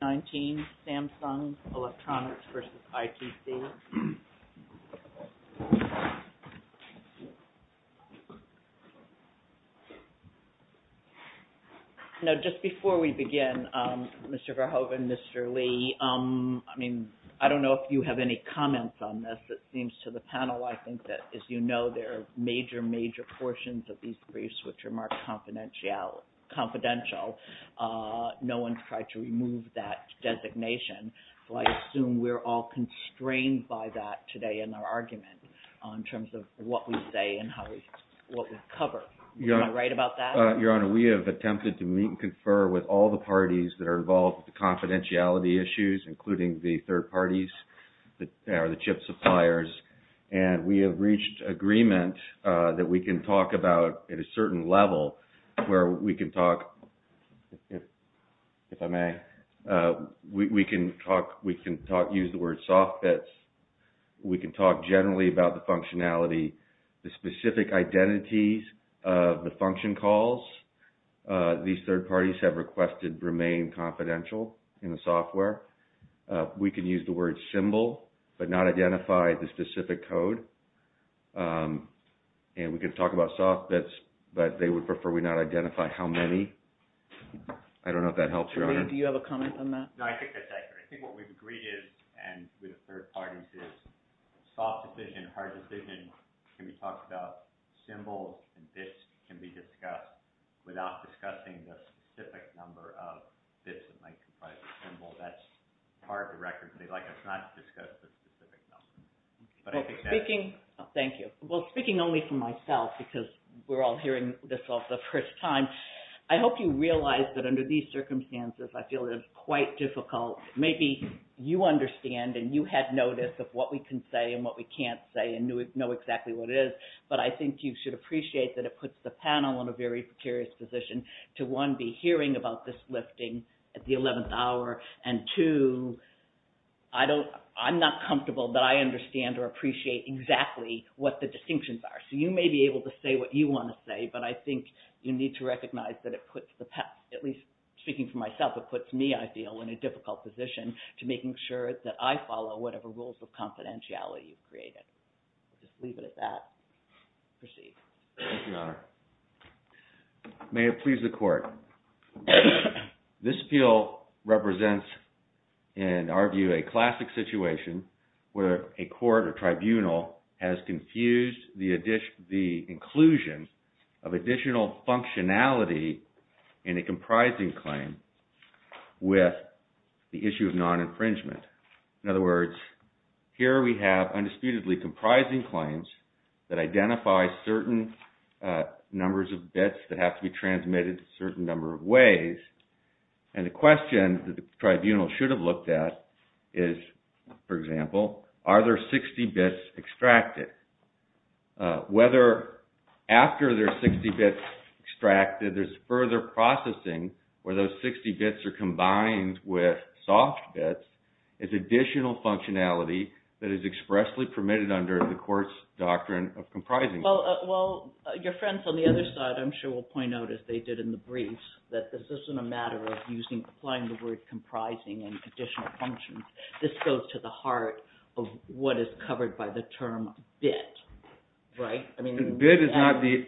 No, just before we begin, Mr. Verhoeven, Mr. Lee, I mean, I don't know if you have any comments on this. It seems to the panel, I think, that as you know, there are major, major portions of these briefs which are marked confidential. No one's tried to remove that designation, so I assume we're all constrained by that today in our argument in terms of what we say and what we cover. Am I right about that? Your Honor, we have attempted to meet and confer with all the parties that are involved with the confidentiality issues, including the third parties, the chip suppliers, and we have reached agreement that we can talk about, at a certain level, where we can talk, if I may, we can talk, we can talk, use the word soft fits. We can talk generally about the functionality, the specific identities of the function calls. These third parties have requested remain confidential in the software. We can use the word symbol, but we have not identified the specific code, and we can talk about soft fits, but they would prefer we not identify how many. I don't know if that helps, Your Honor. Do you have a comment on that? No, I think that's accurate. I think what we've agreed is, and with the third parties is, soft decision, hard decision, can be talked about. Symbol and fits can be discussed without discussing the specific number of fits that might comprise a symbol. That's part of the record. Thank you. Well, speaking only for myself, because we're all hearing this for the first time, I hope you realize that under these circumstances, I feel it is quite difficult. Maybe you understand and you had notice of what we can say and what we can't say and know exactly what it is, but I think you should appreciate that it puts the panel in a very precarious position to one, be hearing about this lifting at the 11th hour, and two, I'm not comfortable that I understand or appreciate exactly what the distinctions are. So you may be able to say what you want to say, but I think you need to recognize that it puts the panel, at least speaking for myself, it puts me, I feel, in a difficult position to making sure that I follow whatever rules of confidentiality you've created. Just leave it at that. Proceed. Thank you, Your Honor. May it please the Court. This bill represents, in our view, a classic situation where a court or tribunal has confused the inclusion of additional functionality in a comprising claim with the issue of non-infringement. In other words, here we have undisputedly comprising claims that identify certain numbers of bits that have to be transmitted a certain number of ways, and the question that the tribunal should have looked at is, for example, are there 60 bits extracted? Whether after there are 60 bits extracted, there's further processing where those 60 bits are combined with soft bits, is additional functionality that is expressly permitted under the court's doctrine of comprising. Well, your friends on the other side, I'm sure, will point out, as they did in the briefs, that this isn't a matter of applying the word comprising and additional functions. This goes to the heart of what is covered by the term bit. Bit is not the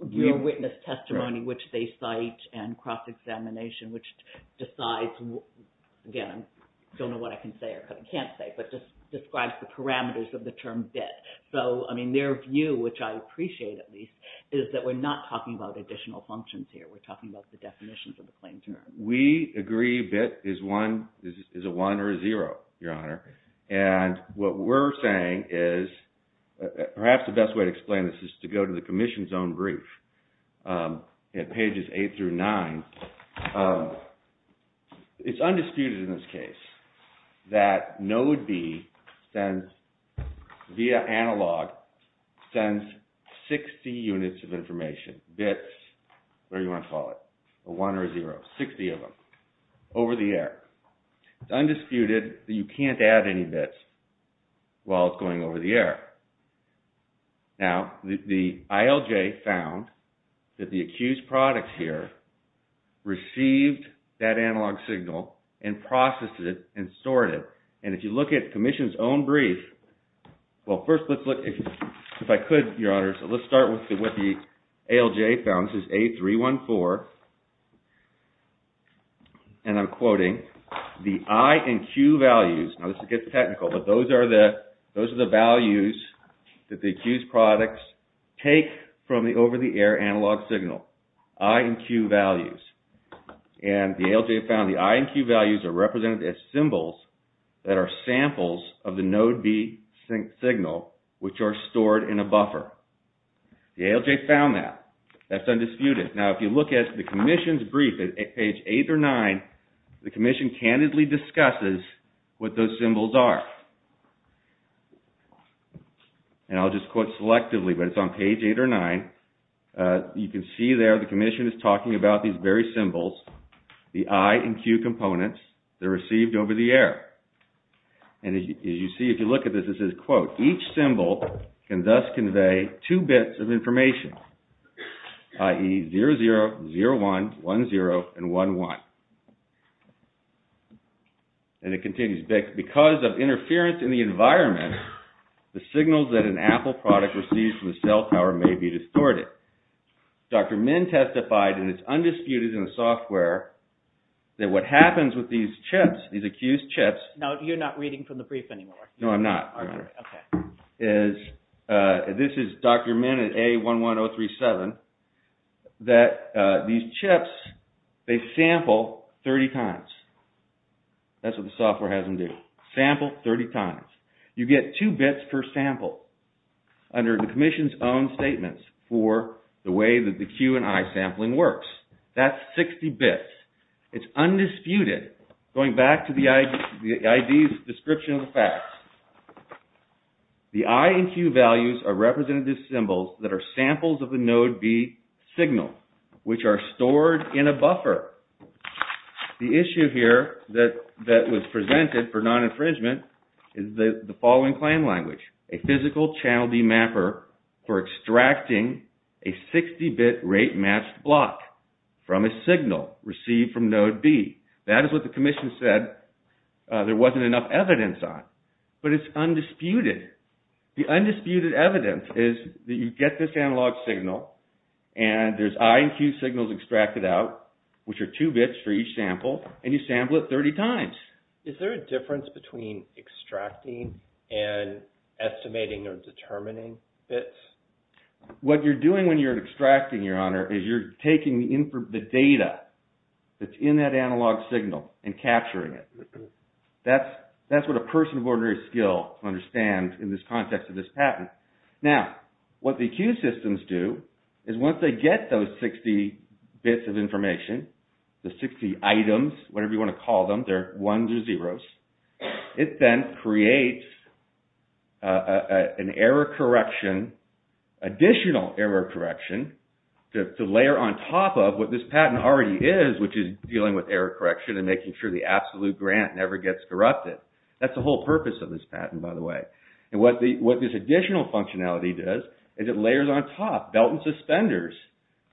real witness testimony which they cite and cross-examination which decides, again, I don't know what I can say or can't say, but describes the parameters of the term bit. So, I mean, their view, which I appreciate at least, is that we're not talking about additional functions here. We're talking about the definitions of the claim term. We agree bit is a 1 or a 0, Your Honor. And what we're saying is, perhaps the best way to explain this is to go to the commission's own brief at pages 8 through 9. It's undisputed in this case that node B sends, via analog, sends 60 units of information, bits, whatever you want to call it, a 1 or a 0, 60 of them, over the air. It's undisputed that you can't add any bits while it's going over the air. Now, the ILJ found that the accused product here received that analog signal and processed it and stored it. And if you look at the commission's own brief, well, first let's look, if I could, Your Honor, so let's start with what the ALJ found. This is A314, and I'm quoting, the I and Q values. Now, this gets technical, but those are the values that the accused products take from the over-the-air analog signal, I and Q values. And the ALJ found the I and Q values are represented as symbols that are samples of the ALJ found that. That's undisputed. Now, if you look at the commission's brief at page 8 or 9, the commission candidly discusses what those symbols are. And I'll just quote selectively, but it's on page 8 or 9. You can see there the commission is talking about these very symbols, the I and Q components that are received over the each symbol can thus convey two bits of information, i.e., 00, 01, 10, and 11. And it continues, because of interference in the environment, the signals that an Apple product receives from the cell tower may be distorted. Dr. Min testified, and it's undisputed in the software, that what happens with these chips, these accused chips Now, you're not reading from the brief anymore. No, I'm not, Your Honor. This is Dr. Min at A11037, that these chips, they sample 30 times. That's what the software has them do. Sample 30 times. You get two bits per sample under the commission's own statements for the way that the Q and I sampling works. That's 60 bits. It's undisputed. Going back to the ID's description of the facts, the I and Q values are representative symbols that are samples of the node B signal, which are stored in a buffer. The issue here that was presented for non-infringement is the following claim language. A physical channel D mapper for extracting a 60-bit rate-matched block from a signal received from node B. That is what the commission said there wasn't enough evidence on, but it's undisputed. The undisputed evidence is that you get this analog signal, and there's I and Q signals extracted out, which are two bits for each sample, and you sample it 30 times. Is there a difference between extracting and estimating or determining bits? What you're doing when you're extracting, Your Honor, is you're taking the data that's in that analog signal and capturing it. That's what a person of ordinary skill can understand in this context of this patent. Now, what the Q systems do is once they get those 60 bits of information, the 60 items, whatever you want to call them, they're ones or zeros, it then creates an error correction, additional error correction, to layer on top of what this patent already is, which is dealing with error correction and making sure the absolute grant never gets corrupted. That's the whole purpose of this patent, by the way. What this additional functionality does is it layers on top, belt and suspenders,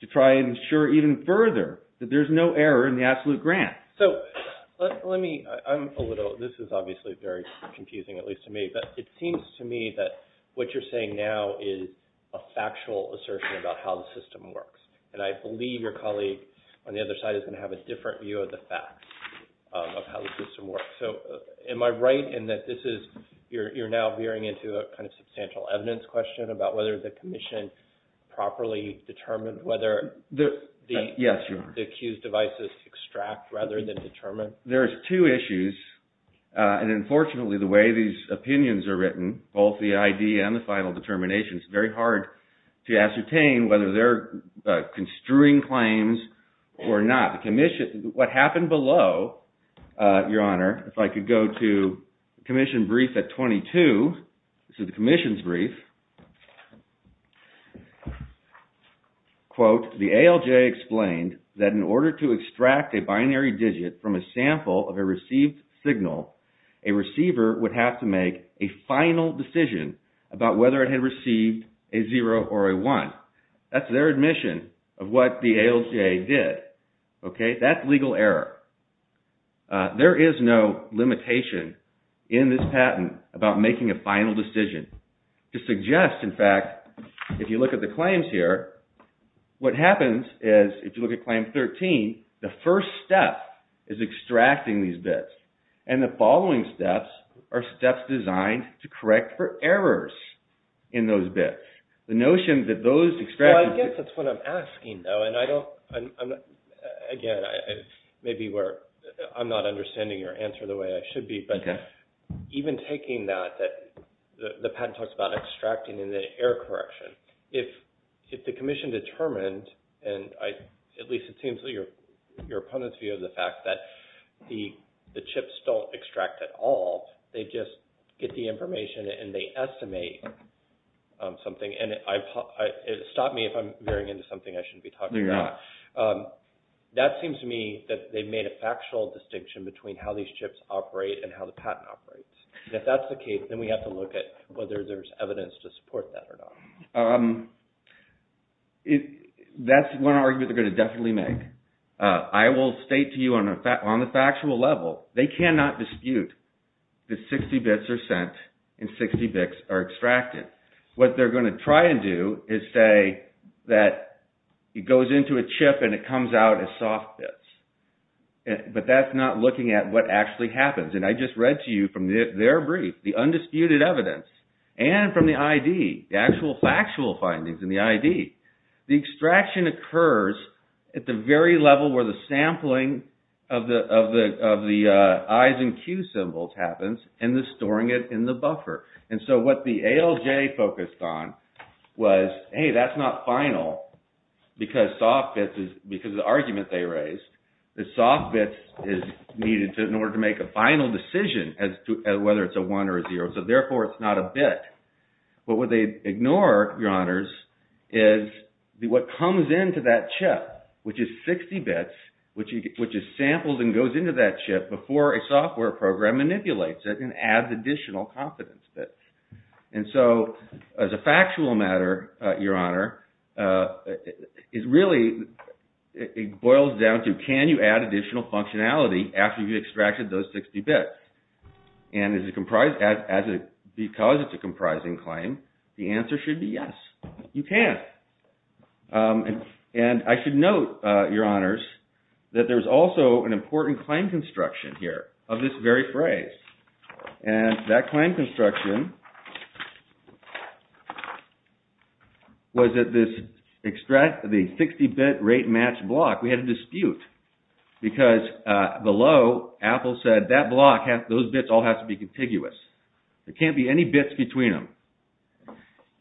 to try and ensure even further that there's no error in the absolute grant. So, let me, I'm a little, this is obviously very confusing, at least to me, but it seems to me that what you're saying now is a factual assertion about how the system works, and I believe your colleague on the other side is going to have a different view of the facts of how the system works. So, am I right in that this is, you're now veering into a kind of substantial evidence question about whether the commission properly determined whether the accused devices extract rather than determine? There's two issues, and unfortunately the way these opinions are written, both the ID and the final determination, it's very hard to ascertain whether they're construing claims or not. What happened below, your honor, if I could go to commission brief at 22, this is the commission's brief, quote, the ALJ explained that in order to extract a binary digit from a sample of a received signal, a receiver would have to make a final decision about whether it had received a zero or a one. That's their admission of what the ALJ did. Okay, that's legal error. There is no limitation in this patent about making a final decision. To suggest, in fact, if you look at the claims here, what happens is if you look at these bits, and the following steps are steps designed to correct for errors in those bits. The notion that those extracted bits... Well, I guess that's what I'm asking, though, and I don't, again, maybe I'm not understanding your answer the way I should be, but even taking that, the patent talks about extracting and the error correction. If the commission determined, and at least it seems that your opponent's view of the fact that the chips don't extract at all, they just get the information and they estimate something, and stop me if I'm veering into something I shouldn't be talking about. That seems to me that they've made a factual distinction between how these chips operate and how the patent operates. If that's the case, then we have to look at whether there's evidence to support that or not. That's one argument they're going to definitely make. I will state to you on a factual level, they cannot dispute that 60 bits are sent and 60 bits are extracted. What they're going to try and do is say that it goes into a chip and it comes out as soft bits, but that's not looking at what actually happens, and I just read to you from their brief, the undisputed evidence, and from the ID, the actual factual findings in the ID, the extraction occurs at the very level where the sampling of the I's and Q symbols happens, and the storing it in the buffer. And so what the ALJ focused on was, hey, that's not final because the argument they raised is soft bits is needed in order to make a final decision as to whether it's a one or a zero, so therefore it's not a bit. But what they ignore, your honors, is what comes into that chip, which is 60 bits, which is sampled and goes into that chip before a software program manipulates it and adds additional confidence bits. And so as a factual matter, your honor, it really boils down to can you add additional functionality after you've extracted it because it's a comprising claim? The answer should be yes, you can. And I should note, your honors, that there's also an important claim construction here of this very phrase, and that claim construction was that this 60-bit rate match block, we had a dispute because below, Apple said that block, those bits all have to be contiguous. There can't be any bits between them.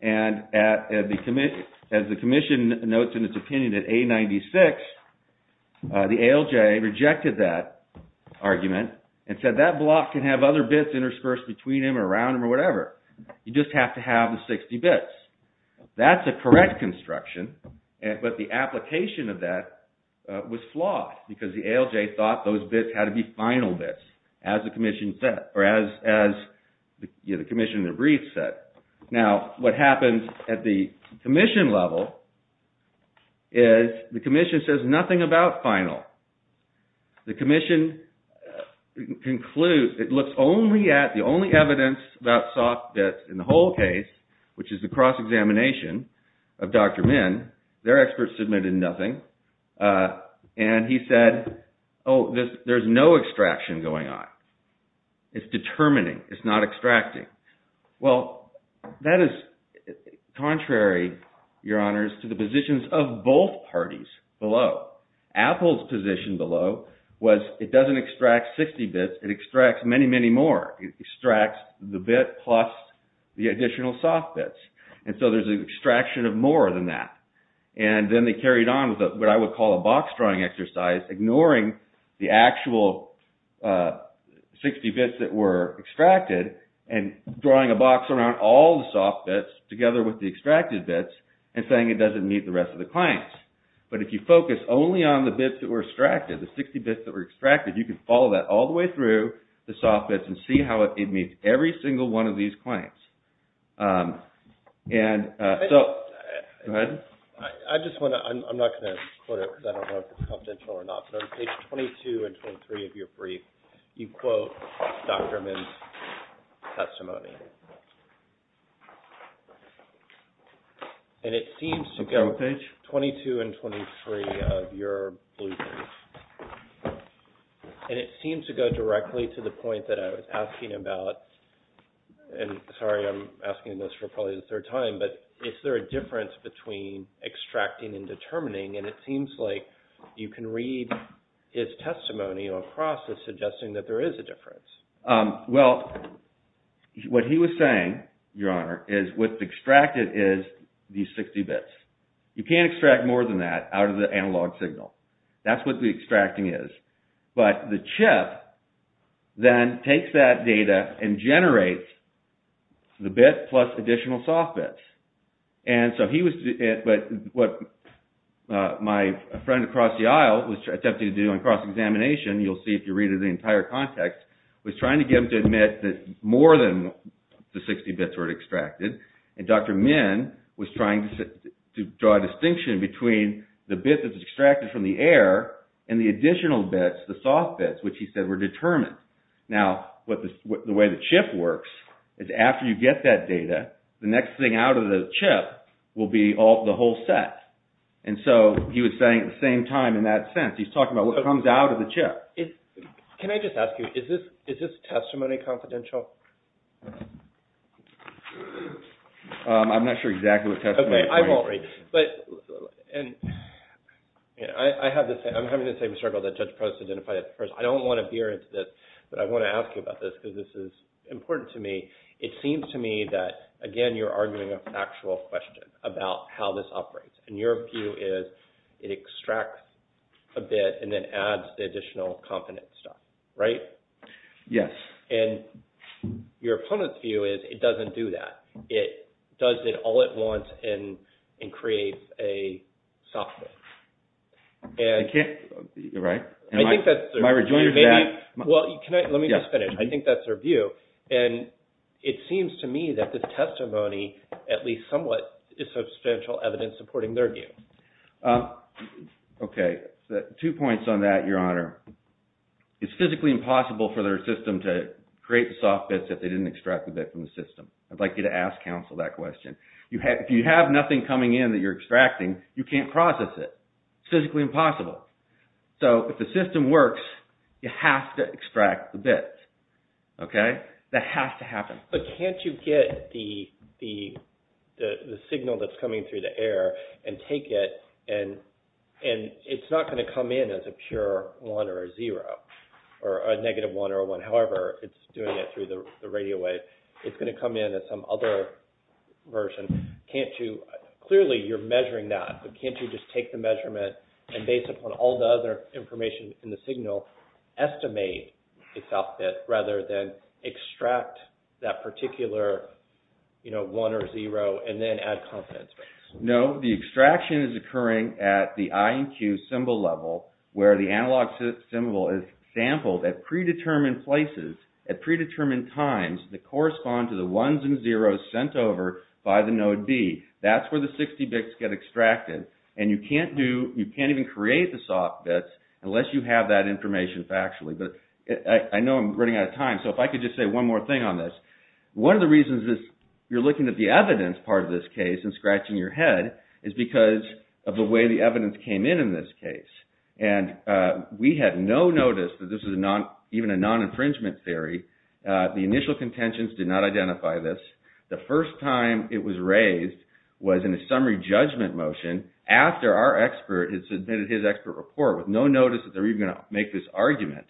And as the commission notes in its opinion at A96, the ALJ rejected that argument and said that block can have other bits interspersed between them or around them or whatever. You just have to have the 60 bits. That's a correct construction, but the application of that was flawed because the ALJ thought those bits had to be final bits, as the commission said, or as the commission in the brief said. Now, what happens at the commission level is the commission says nothing about final. The commission concludes, it looks only at the only evidence about soft bits in the whole case, which is the cross-examination of Dr. Min. Their experts submitted nothing, and he said, oh, there's no extraction going on. It's determining. It's not extracting. Well, that is contrary, your honors, to the positions of both And so there's an extraction of more than that. And then they carried on with what I would call a box-drawing exercise, ignoring the actual 60 bits that were extracted and drawing a box around all the soft bits together with the extracted bits and saying it doesn't meet the rest of the claims. But if you focus only on the bits that were And so, go ahead. I just want to, I'm not going to quote it because I don't know if it's confidential or not, but on page 22 and 23 of your brief, you quote Dr. Min's testimony. And it seems to go, 22 and 23 of your blueprint, and it seems to go directly to the point that I was asking about, and sorry, I'm asking this for probably the third time, but is there a difference between What he was saying, your honor, is what's extracted is these 60 bits. You can't extract more than that out of the analog signal. That's what the extracting is. But the chip then takes that data and generates the bit plus additional soft bits. And so he was, but what my friend across the aisle was attempting to do in cross-examination, you'll see if you read it in the entire context, was trying to get him to admit that more than the 60 bits were extracted. And Dr. Min was trying to draw a distinction between the bit that was extracted from the air and the additional bits, the soft bits, which he said were determined. Now, the way the chip works is after you get that data, the next thing out of the chip will be the whole set. And so he was saying at the same time in that sense, he's talking about what comes out of the chip. Can I just ask you, is this testimony confidential? I'm not sure exactly what testimony. I won't read. But I'm having the same struggle that Judge Post identified at first. I don't want to veer into this, but I want to ask you about this because this is important to me. It seems to me that, again, you're arguing a factual question about how this operates. And your view is it extracts a bit and then adds the additional confidence stuff, right? Yes. And your opponent's view is it doesn't do that. It does it all at once and creates a soft bit. I can't, right? I think that's their view. Am I rejoining to that? Well, let me just finish. I think that's their view. And it seems to me that this testimony at least somewhat is substantial evidence supporting their view. Okay. Two points on that, Your Honor. It's physically impossible for their system to create the soft bits if they didn't extract the bit from the system. I'd like you to ask counsel that question. If you have nothing coming in that you're extracting, you can't process it. It's physically impossible. So if the system works, you have to extract the bits. Okay? That has to happen. But can't you get the signal that's coming through the air and take it and it's not going to come in as a pure one or a zero or a negative one or a one. However, it's doing it through the radio wave. It's going to come in as some other version. Clearly, you're measuring that. But can't you just take the measurement and based upon all the other information in the signal, estimate a soft bit rather than extract that particular one or zero and then add confidence rates? No. The extraction is occurring at the I and Q symbol level where the analog symbol is sampled at predetermined places at predetermined times that correspond to the ones and zeros sent over by the node B. That's where the 60 bits get extracted. And you can't even create the soft bits unless you have that information factually. I know I'm running out of time. So if I could just say one more thing on this. One of the reasons you're looking at the evidence part of this case and scratching your head is because of the way the evidence came in in this case. And we had no notice that this was even a non-infringement theory. The initial contentions did not identify this. The first time it was raised was in a summary judgment motion after our expert had submitted his expert report with no notice that they were even going to make this argument.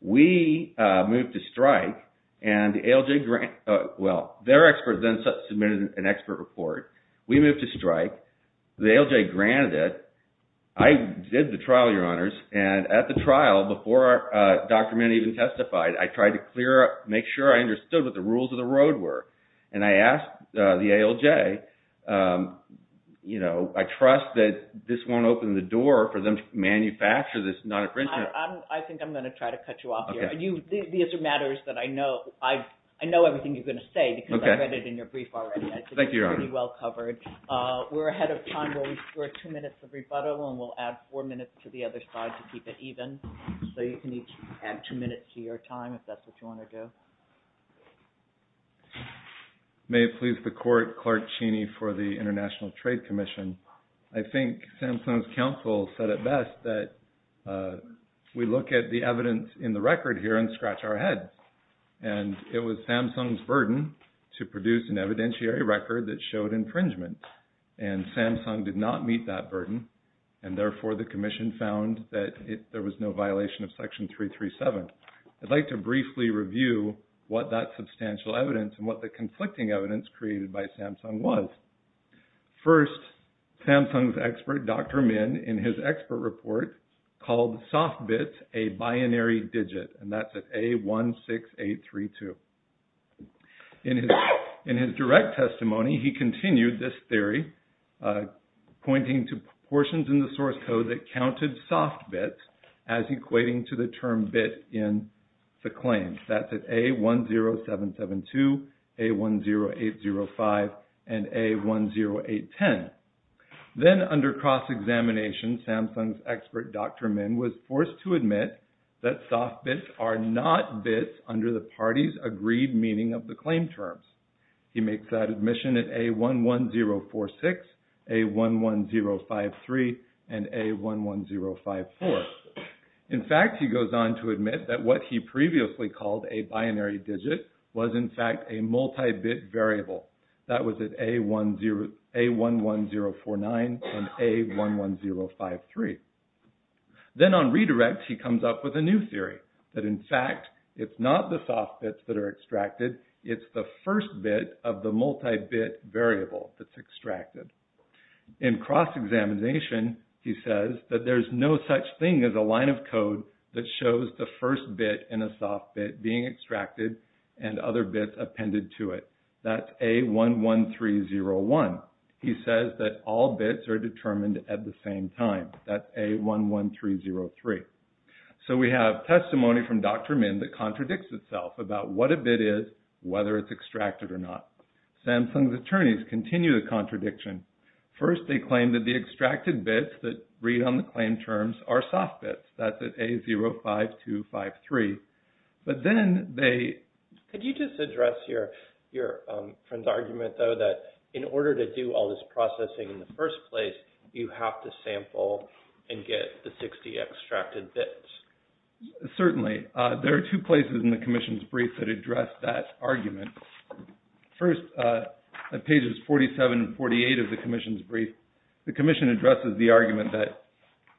We moved to strike and ALJ – well, their expert then submitted an expert report. We moved to strike. The ALJ granted it. I did the trial, Your Honors. And at the trial, before Dr. Manning even testified, I tried to make sure I understood what the rules of the road were. And I asked the ALJ, I trust that this won't open the door for them to manufacture this non-infringement. I think I'm going to try to cut you off here. These are matters that I know. I know everything you're going to say because I read it in your brief already. Thank you, Your Honors. It's pretty well covered. We're ahead of time. We're two minutes of rebuttal and we'll add four minutes to the other side to keep it even. So you can each add two minutes to your time if that's what you want to do. May it please the Court, Clark Cheney for the International Trade Commission. I think Samsung's counsel said it best that we look at the evidence in the record here and scratch our heads. And it was Samsung's burden to produce an evidentiary record that showed infringement. And Samsung did not meet that burden. And therefore, the commission found that there was no violation of Section 337. I'd like to briefly review what that substantial evidence and what the conflicting evidence created by Samsung was. First, Samsung's expert, Dr. Min, in his expert report called soft bits a binary digit. And that's at A16832. In his direct testimony, he continued this theory, pointing to portions in the source code that counted soft bits as equating to the term bit in the claim. That's at A10772, A10805, and A10810. Then under cross-examination, Samsung's expert, Dr. Min, was forced to admit that soft bits are not bits under the parties' agreed meaning of the claim terms. He makes that admission at A11046, A11053, and A11054. In fact, he goes on to admit that what he previously called a binary digit was, in fact, a multi-bit variable. That was at A11049 and A11053. Then on redirect, he comes up with a new theory, that in fact, it's not the soft bits that are extracted. It's the first bit of the multi-bit variable that's extracted. In cross-examination, he says that there's no such thing as a line of code that shows the first bit in a soft bit being extracted and other bits appended to it. That's A11301. He says that all bits are determined at the same time. That's A11303. We have testimony from Dr. Min that contradicts itself about what a bit is, whether it's extracted or not. Samsung's attorneys continue the contradiction. First, they claim that the extracted bits that read on the claim terms are soft bits. That's at A05253. Could you just address your friend's argument, though, that in order to do all this processing in the first place, you have to sample and get the 60 extracted bits? Certainly. There are two places in the commission's brief that address that argument. First, at pages 47 and 48 of the commission's brief, the commission addresses the argument that,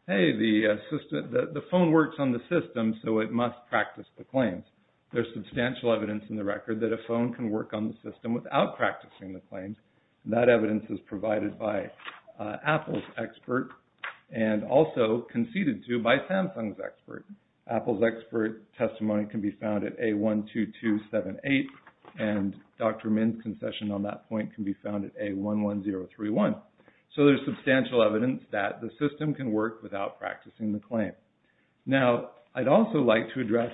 hey, the phone works on the system, so it must practice the claims. There's substantial evidence in the record that a phone can work on the system without practicing the claims. That evidence is provided by Apple's expert and also conceded to by Samsung's expert. Apple's expert testimony can be found at A12278, and Dr. Min's concession on that point can be found at A11031. There's substantial evidence that the system can work without practicing the claim. Now, I'd also like to address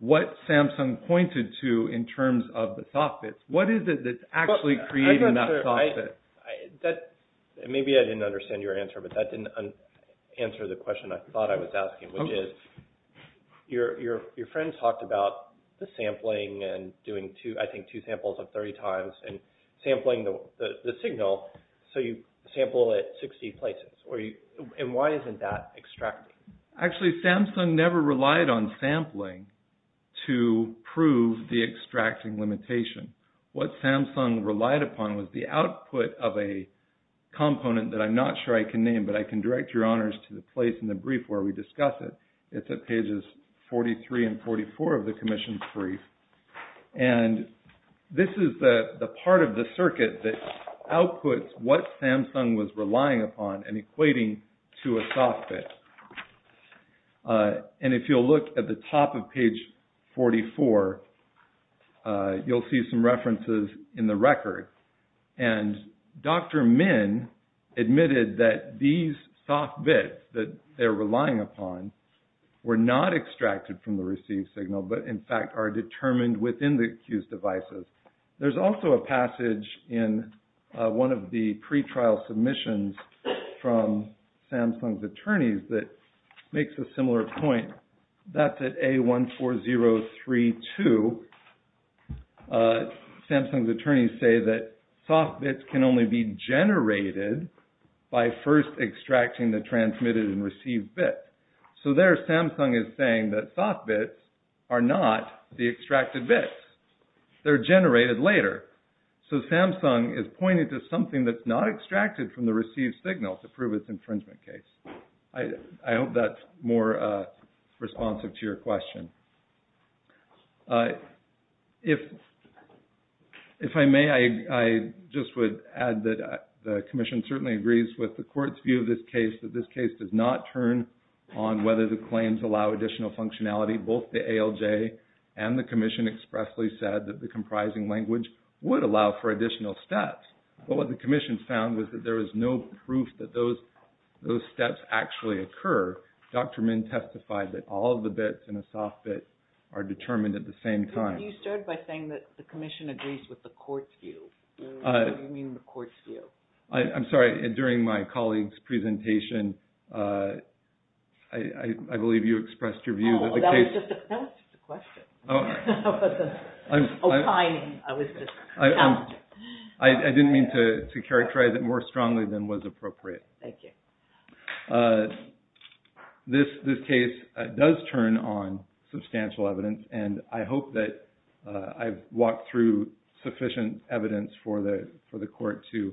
what Samsung pointed to in terms of the soft bits. What is it that's actually creating that soft bit? Maybe I didn't understand your answer, but that didn't answer the question I thought I was asking, which is your friend talked about the sampling and doing, I think, two samples of 30 times and sampling the signal, so you sample at 60 places. Why isn't that extracted? Actually, Samsung never relied on sampling to prove the extracting limitation. What Samsung relied upon was the output of a component that I'm not sure I can name, but I can direct your honors to the place in the brief where we discuss it. It's at pages 43 and 44 of the commission's brief. This is the part of the circuit that outputs what Samsung was relying upon and equating to a soft bit. If you'll look at the top of page 44, you'll see some references in the record. Dr. Min admitted that these soft bits that they're relying upon were not extracted from the received signal, but in fact are determined within the accused devices. There's also a passage in one of the pretrial submissions from Samsung's attorneys that makes a similar point. That's at A14032. Samsung's attorneys say that soft bits can only be generated by first extracting the transmitted and received bits. There, Samsung is saying that soft bits are not the extracted bits. They're generated later. Samsung is pointing to something that's not extracted from the received signal to prove its infringement case. I hope that's more responsive to your question. If I may, I just would add that the commission certainly agrees with the court's view of this case that this case does not turn on whether the claims allow additional functionality. Both the ALJ and the commission expressly said that the comprising language would allow for additional steps, but what the commission found was that there was no proof that those steps actually occur. Dr. Min testified that all of the bits in a soft bit are determined at the same time. You started by saying that the commission agrees with the court's view. What do you mean the court's view? I'm sorry. During my colleague's presentation, I believe you expressed your view that the case… That was just a question. I didn't mean to characterize it more strongly than was appropriate. Thank you. This case does turn on substantial evidence, and I hope that I've walked through sufficient evidence for the court to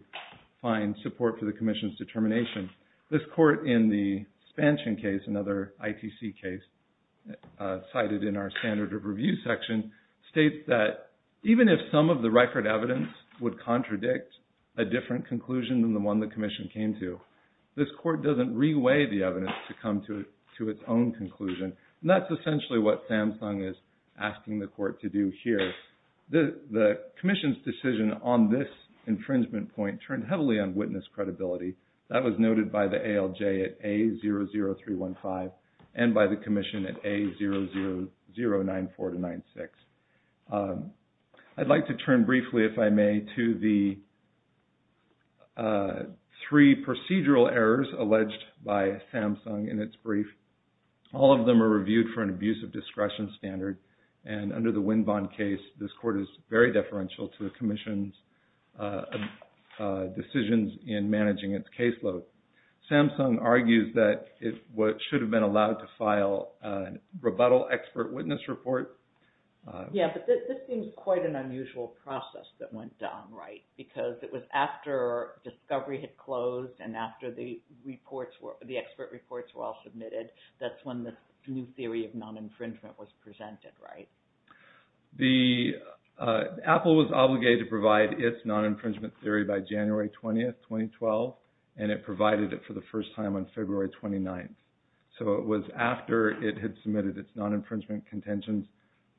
find support for the commission's determination. This court in the expansion case, another ITC case cited in our standard of review section, states that even if some of the record evidence would contradict a different conclusion than the one the commission came to, this court doesn't reweigh the evidence to come to its own conclusion. That's essentially what Samsung is asking the court to do here. The commission's decision on this infringement point turned heavily on witness credibility. That was noted by the ALJ at A00315 and by the commission at A00094-96. I'd like to turn briefly, if I may, to the three procedural errors alleged by Samsung in its brief. All of them are reviewed for an abuse of discretion standard, and under the Winbon case, this court is very deferential to the commission's decisions in managing its caseload. Samsung argues that it should have been allowed to file a rebuttal expert witness report. Yeah, but this seems quite an unusual process that went down, right? Because it was after discovery had closed and after the expert reports were all submitted, that's when the new theory of non-infringement was presented, right? Apple was obligated to provide its non-infringement theory by January 20th, 2012, and it provided it for the first time on February 29th. So it was after it had submitted its non-infringement contentions,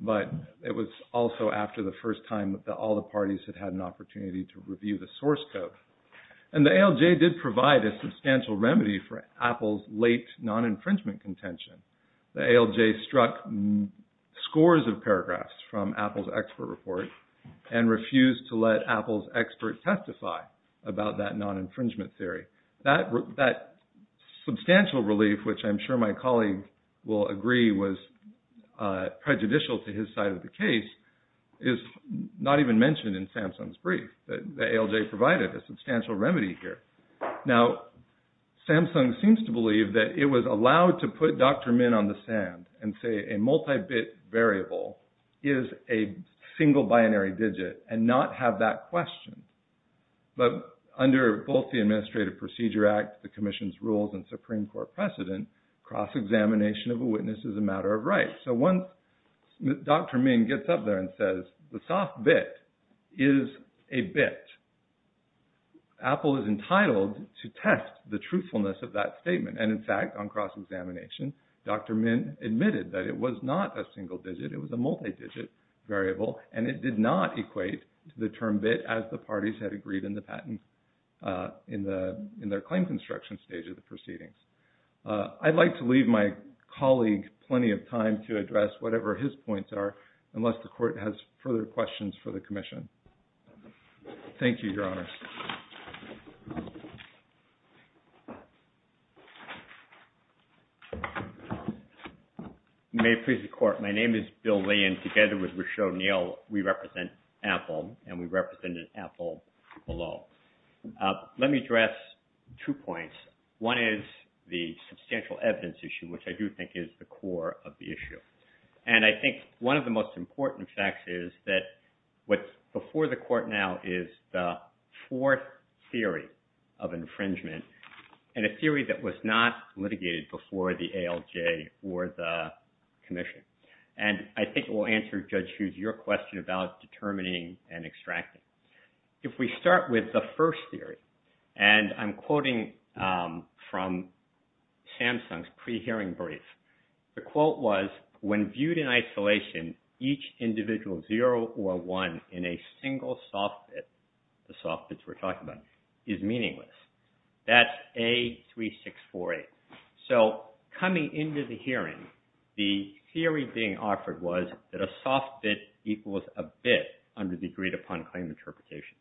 but it was also after the first time that all the parties had had an opportunity to review the source code. And the ALJ did provide a substantial remedy for Apple's late non-infringement contention. The ALJ struck scores of paragraphs from Apple's expert report and refused to let Apple's expert testify about that non-infringement theory. That substantial relief, which I'm sure my colleague will agree was prejudicial to his side of the case, is not even mentioned in Samsung's brief. The ALJ provided a substantial remedy here. Now, Samsung seems to believe that it was allowed to put Dr. Min on the sand and say a multi-bit variable is a single binary digit and not have that question. But under both the Administrative Procedure Act, the Commission's rules, and Supreme Court precedent, cross-examination of a witness is a matter of right. So once Dr. Min gets up there and says the soft bit is a bit, Apple is entitled to test the truthfulness of that statement. And in fact, on cross-examination, Dr. Min admitted that it was not a single digit, it was a multi-digit variable, and it did not equate to the term bit as the parties had agreed in the patent in their claim construction stage of the proceedings. I'd like to leave my colleague plenty of time to address whatever his points are, unless the Court has further questions for the Commission. Thank you, Your Honor. Yes. May it please the Court, my name is Bill Lee, and together with Rochelle Neal, we represent Apple, and we represented Apple below. Let me address two points. One is the substantial evidence issue, which I do think is the core of the issue. And I think one of the most important facts is that what's before the Court now is the fourth theory of infringement, and a theory that was not litigated before the ALJ or the Commission. And I think it will answer, Judge Hughes, your question about determining and extracting. If we start with the first theory, and I'm quoting from Samsung's pre-hearing brief. The quote was, when viewed in isolation, each individual zero or one in a single soft bit, the soft bits we're talking about, is meaningless. That's A3648. So coming into the hearing, the theory being offered was that a soft bit equals a bit under the agreed-upon claim interpretation.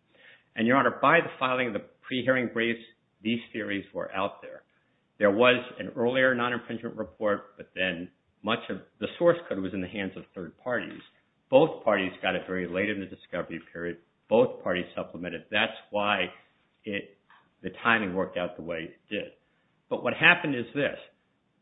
And, Your Honor, by the filing of the pre-hearing briefs, these theories were out there. There was an earlier non-imprisonment report, but then much of the source code was in the hands of third parties. Both parties got it very late in the discovery period. Both parties supplemented. That's why the timing worked out the way it did. But what happened is this.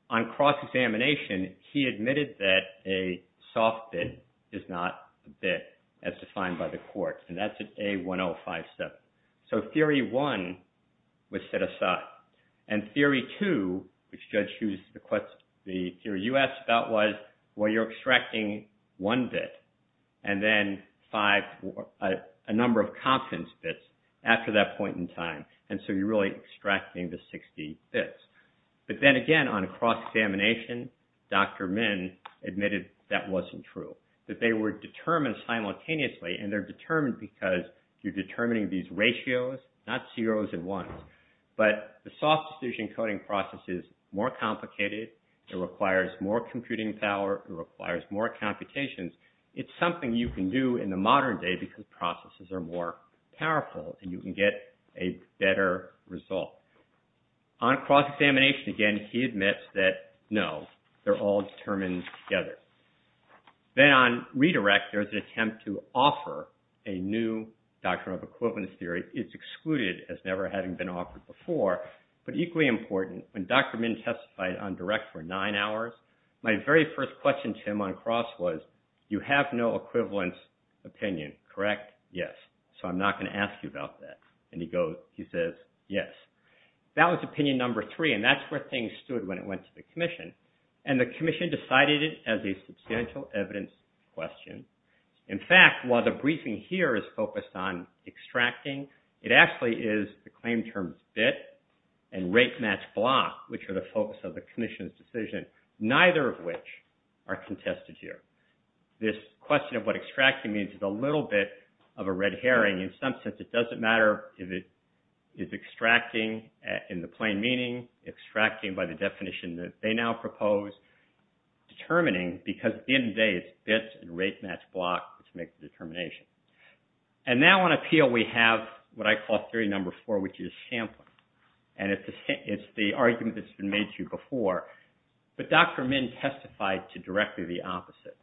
On cross-examination, he admitted that a soft bit is not a bit, as defined by the Court. And that's at A1057. So theory one was set aside. And theory two, which Judge Hughes, you asked about, was, well, you're extracting one bit, and then a number of confidence bits after that point in time. And so you're really extracting the 60 bits. But then again, on cross-examination, Dr. Min admitted that wasn't true, that they were determined simultaneously. And they're determined because you're determining these ratios, not zeros and ones. But the soft decision coding process is more complicated. It requires more computing power. It requires more computations. It's something you can do in the modern day because processes are more powerful, and you can get a better result. On cross-examination, again, he admits that, no, they're all determined together. Then on redirect, there's an attempt to offer a new doctrine of equivalence theory. It's excluded, as never having been offered before. But equally important, when Dr. Min testified on direct for nine hours, my very first question to him on cross was, you have no equivalence opinion, correct? Yes. So I'm not going to ask you about that. And he says, yes. That was opinion number three, and that's where things stood when it went to the Commission. And the Commission decided it as a substantial evidence question. In fact, while the briefing here is focused on extracting, it actually is the claim term bit and rate match block, which are the focus of the Commission's decision, neither of which are contested here. This question of what extracting means is a little bit of a red herring. In some sense, it doesn't matter if it is extracting in the plain meaning, extracting by the definition that they now propose, determining, because at the end of the day, it's bit and rate match block which makes the determination. And now on appeal, we have what I call theory number four, which is sampling. And it's the argument that's been made to you before, but Dr. Min testified to directly the opposite.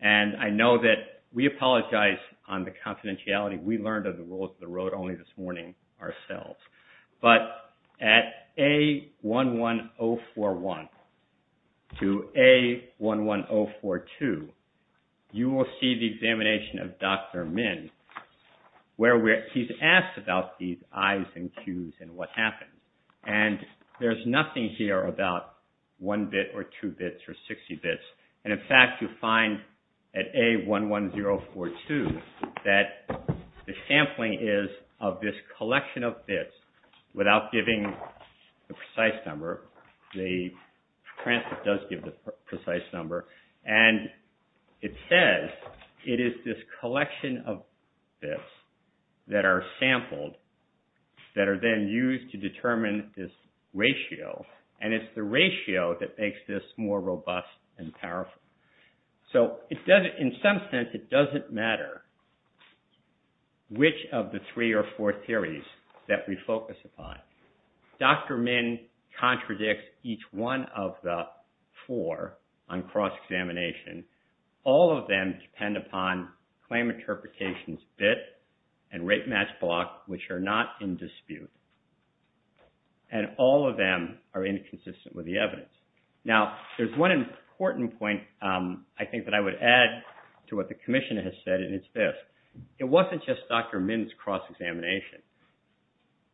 And I know that we apologize on the confidentiality. We learned of the rules of the road only this morning ourselves. But at A11041 to A11042, you will see the examination of Dr. Min where he's asked about these I's and Q's and what happened. And there's nothing here about one bit or two bits or 60 bits. And in fact, you find at A11042 that the sampling is of this collection of bits without giving the precise number. The transcript does give the precise number. And it says it is this collection of bits that are sampled that are then used to determine this ratio. And it's the ratio that makes this more robust and powerful. So in some sense, it doesn't matter which of the three or four theories that we focus upon. Dr. Min contradicts each one of the four on cross-examination. All of them depend upon claim interpretation's bit and rate match block, which are not in dispute. And all of them are inconsistent with the evidence. Now, there's one important point I think that I would add to what the Commissioner has said, and it's this. It wasn't just Dr. Min's cross-examination.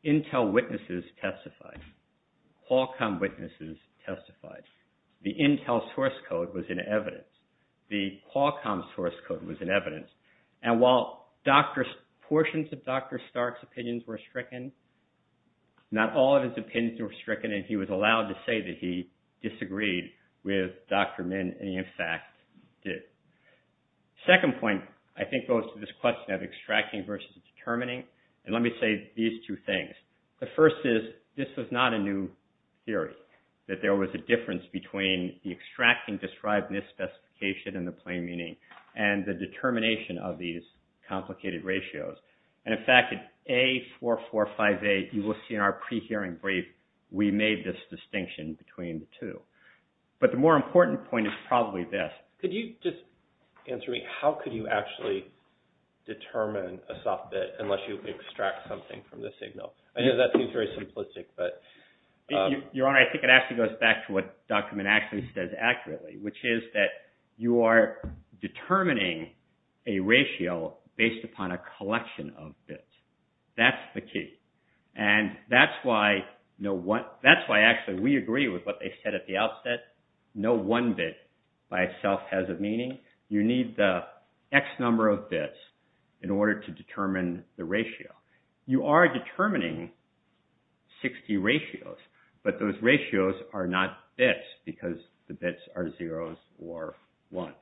Intel witnesses testified. Qualcomm witnesses testified. The Intel source code was in evidence. The Qualcomm source code was in evidence. And while portions of Dr. Stark's opinions were stricken, not all of his opinions were stricken, and he was allowed to say that he disagreed with Dr. Min, and he, in fact, did. The second point, I think, goes to this question of extracting versus determining. And let me say these two things. The first is this was not a new theory, that there was a difference between the extracting described in this specification and the plain meaning, and the determination of these complicated ratios. And, in fact, in A4458, you will see in our pre-hearing brief, we made this distinction between the two. But the more important point is probably this. Could you just answer me? How could you actually determine a soft bit unless you extract something from the signal? I know that seems very simplistic, but... Well, Your Honor, I think it actually goes back to what Dr. Min actually says accurately, which is that you are determining a ratio based upon a collection of bits. That's the key. And that's why, actually, we agree with what they said at the outset. No one bit by itself has a meaning. You need the X number of bits in order to determine the ratio. You are determining 60 ratios, but those ratios are not bits because the bits are 0s or 1s.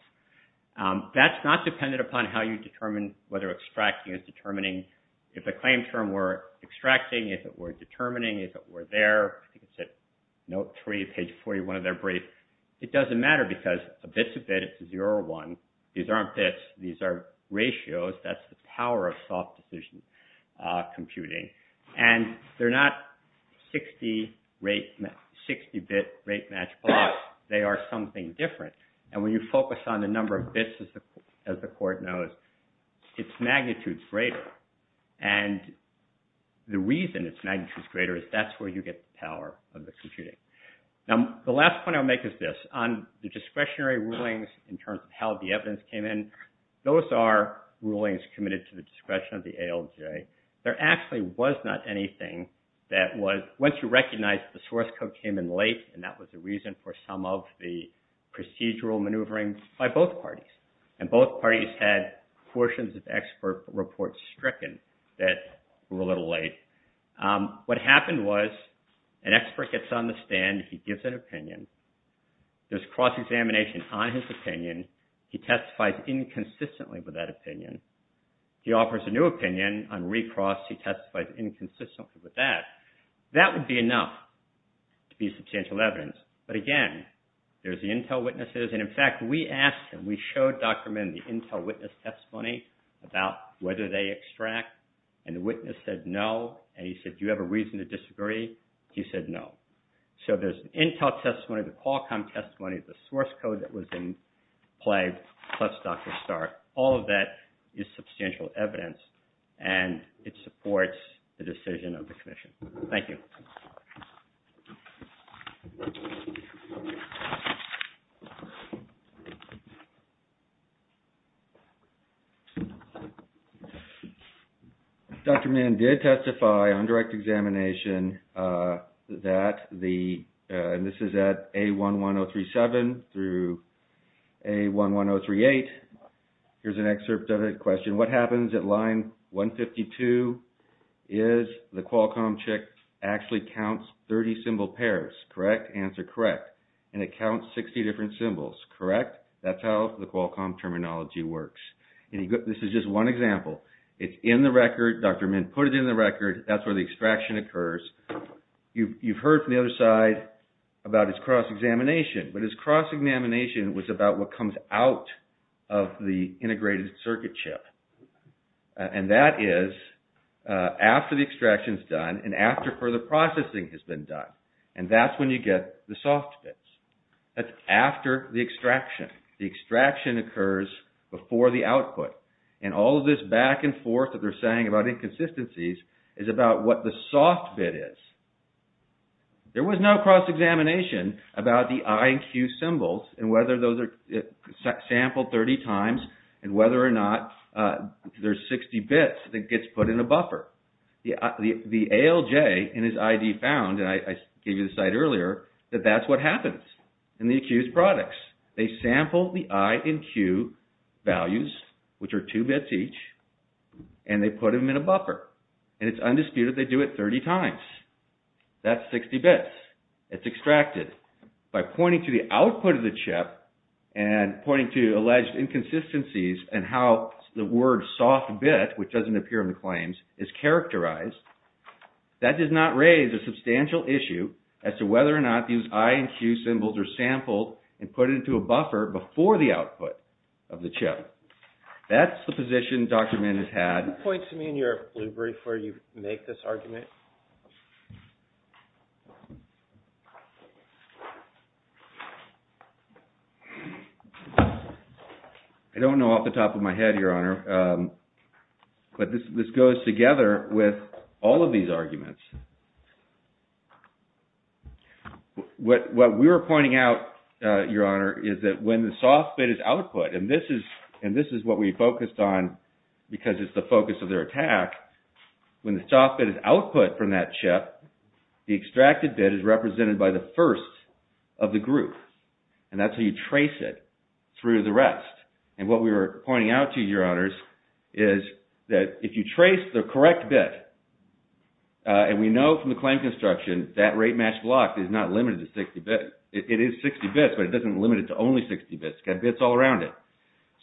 That's not dependent upon how you determine whether extracting is determining. If the claim term were extracting, if it were determining, if it were there, I think it's at note 3, page 41 of their brief, it doesn't matter because a bit's a bit. It's a 0 or 1. These aren't bits. These are ratios. That's the power of soft decision computing. And they're not 60-bit rate match plots. They are something different. And when you focus on the number of bits, as the court knows, its magnitude is greater. And the reason its magnitude is greater is that's where you get the power of the computing. Now, the last point I'll make is this. On the discretionary rulings in terms of how the evidence came in, those are rulings committed to the discretion of the ALJ. There actually was not anything that was, once you recognize the source code came in late, and that was the reason for some of the procedural maneuvering by both parties. And both parties had portions of expert reports stricken that were a little late. What happened was an expert gets on the stand. He gives an opinion. There's cross-examination on his opinion. He testifies inconsistently with that opinion. He offers a new opinion on recross. He testifies inconsistently with that. That would be enough to be substantial evidence. But, again, there's the intel witnesses. And, in fact, we asked them. We showed Dr. Min the intel witness testimony about whether they extract. And the witness said no. And he said, do you have a reason to disagree? He said no. So there's an intel testimony, the Qualcomm testimony, the source code that was in play, plus Dr. Stark. All of that is substantial evidence, and it supports the decision of the commission. Thank you. Dr. Min did testify on direct examination that the – and this is at A11037 through A11038. Here's an excerpt of a question. What happens at line 152 is the Qualcomm check actually counts 30 symbol pairs, correct? Answer, correct. And it counts 60 different symbols, correct? That's how the Qualcomm terminology works. And this is just one example. It's in the record. Dr. Min put it in the record. That's where the extraction occurs. You've heard from the other side about his cross-examination. But his cross-examination was about what comes out of the integrated circuit chip. And that is after the extraction is done and after further processing has been done. And that's when you get the soft bits. That's after the extraction. The extraction occurs before the output. And all of this back and forth that they're saying about inconsistencies is about what the soft bit is. There was no cross-examination about the I and Q symbols and whether those are sampled 30 times and whether or not there's 60 bits that gets put in a buffer. The ALJ in his ID found, and I gave you the site earlier, that that's what happens in the accused products. They sample the I and Q values, which are two bits each, and they put them in a buffer. And it's undisputed they do it 30 times. That's 60 bits that's extracted. By pointing to the output of the chip and pointing to alleged inconsistencies and how the word soft bit, which doesn't appear in the claims, is characterized, that does not raise a substantial issue as to whether or not these I and Q symbols are sampled and put into a buffer before the output of the chip. That's the position Dr. Min has had. Can you point to me in your blue brief where you make this argument? I don't know off the top of my head, Your Honor, but this goes together with all of these arguments. What we were pointing out, Your Honor, is that when the soft bit is output, and this is what we focused on because it's the focus of their attack, when the soft bit is output from that chip, the extracted bit is represented by the first of the group. And that's how you trace it through the rest. And what we were pointing out to you, Your Honors, is that if you trace the correct bit and we know from the claim construction that rate match block is not limited to 60 bits. It is 60 bits, but it doesn't limit it to only 60 bits. It's got bits all around it.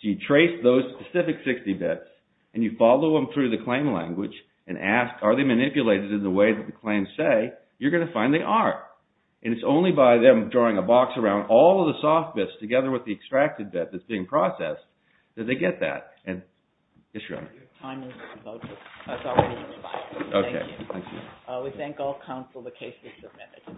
So you trace those specific 60 bits and you follow them through the claim language and ask are they manipulated in the way that the claims say you're going to find they are. And it's only by them drawing a box around all of the soft bits together with the extracted bit that's being processed that they get that. And it's your honor. Time is up. Okay. Thank you. We thank all counsel. The case is submitted.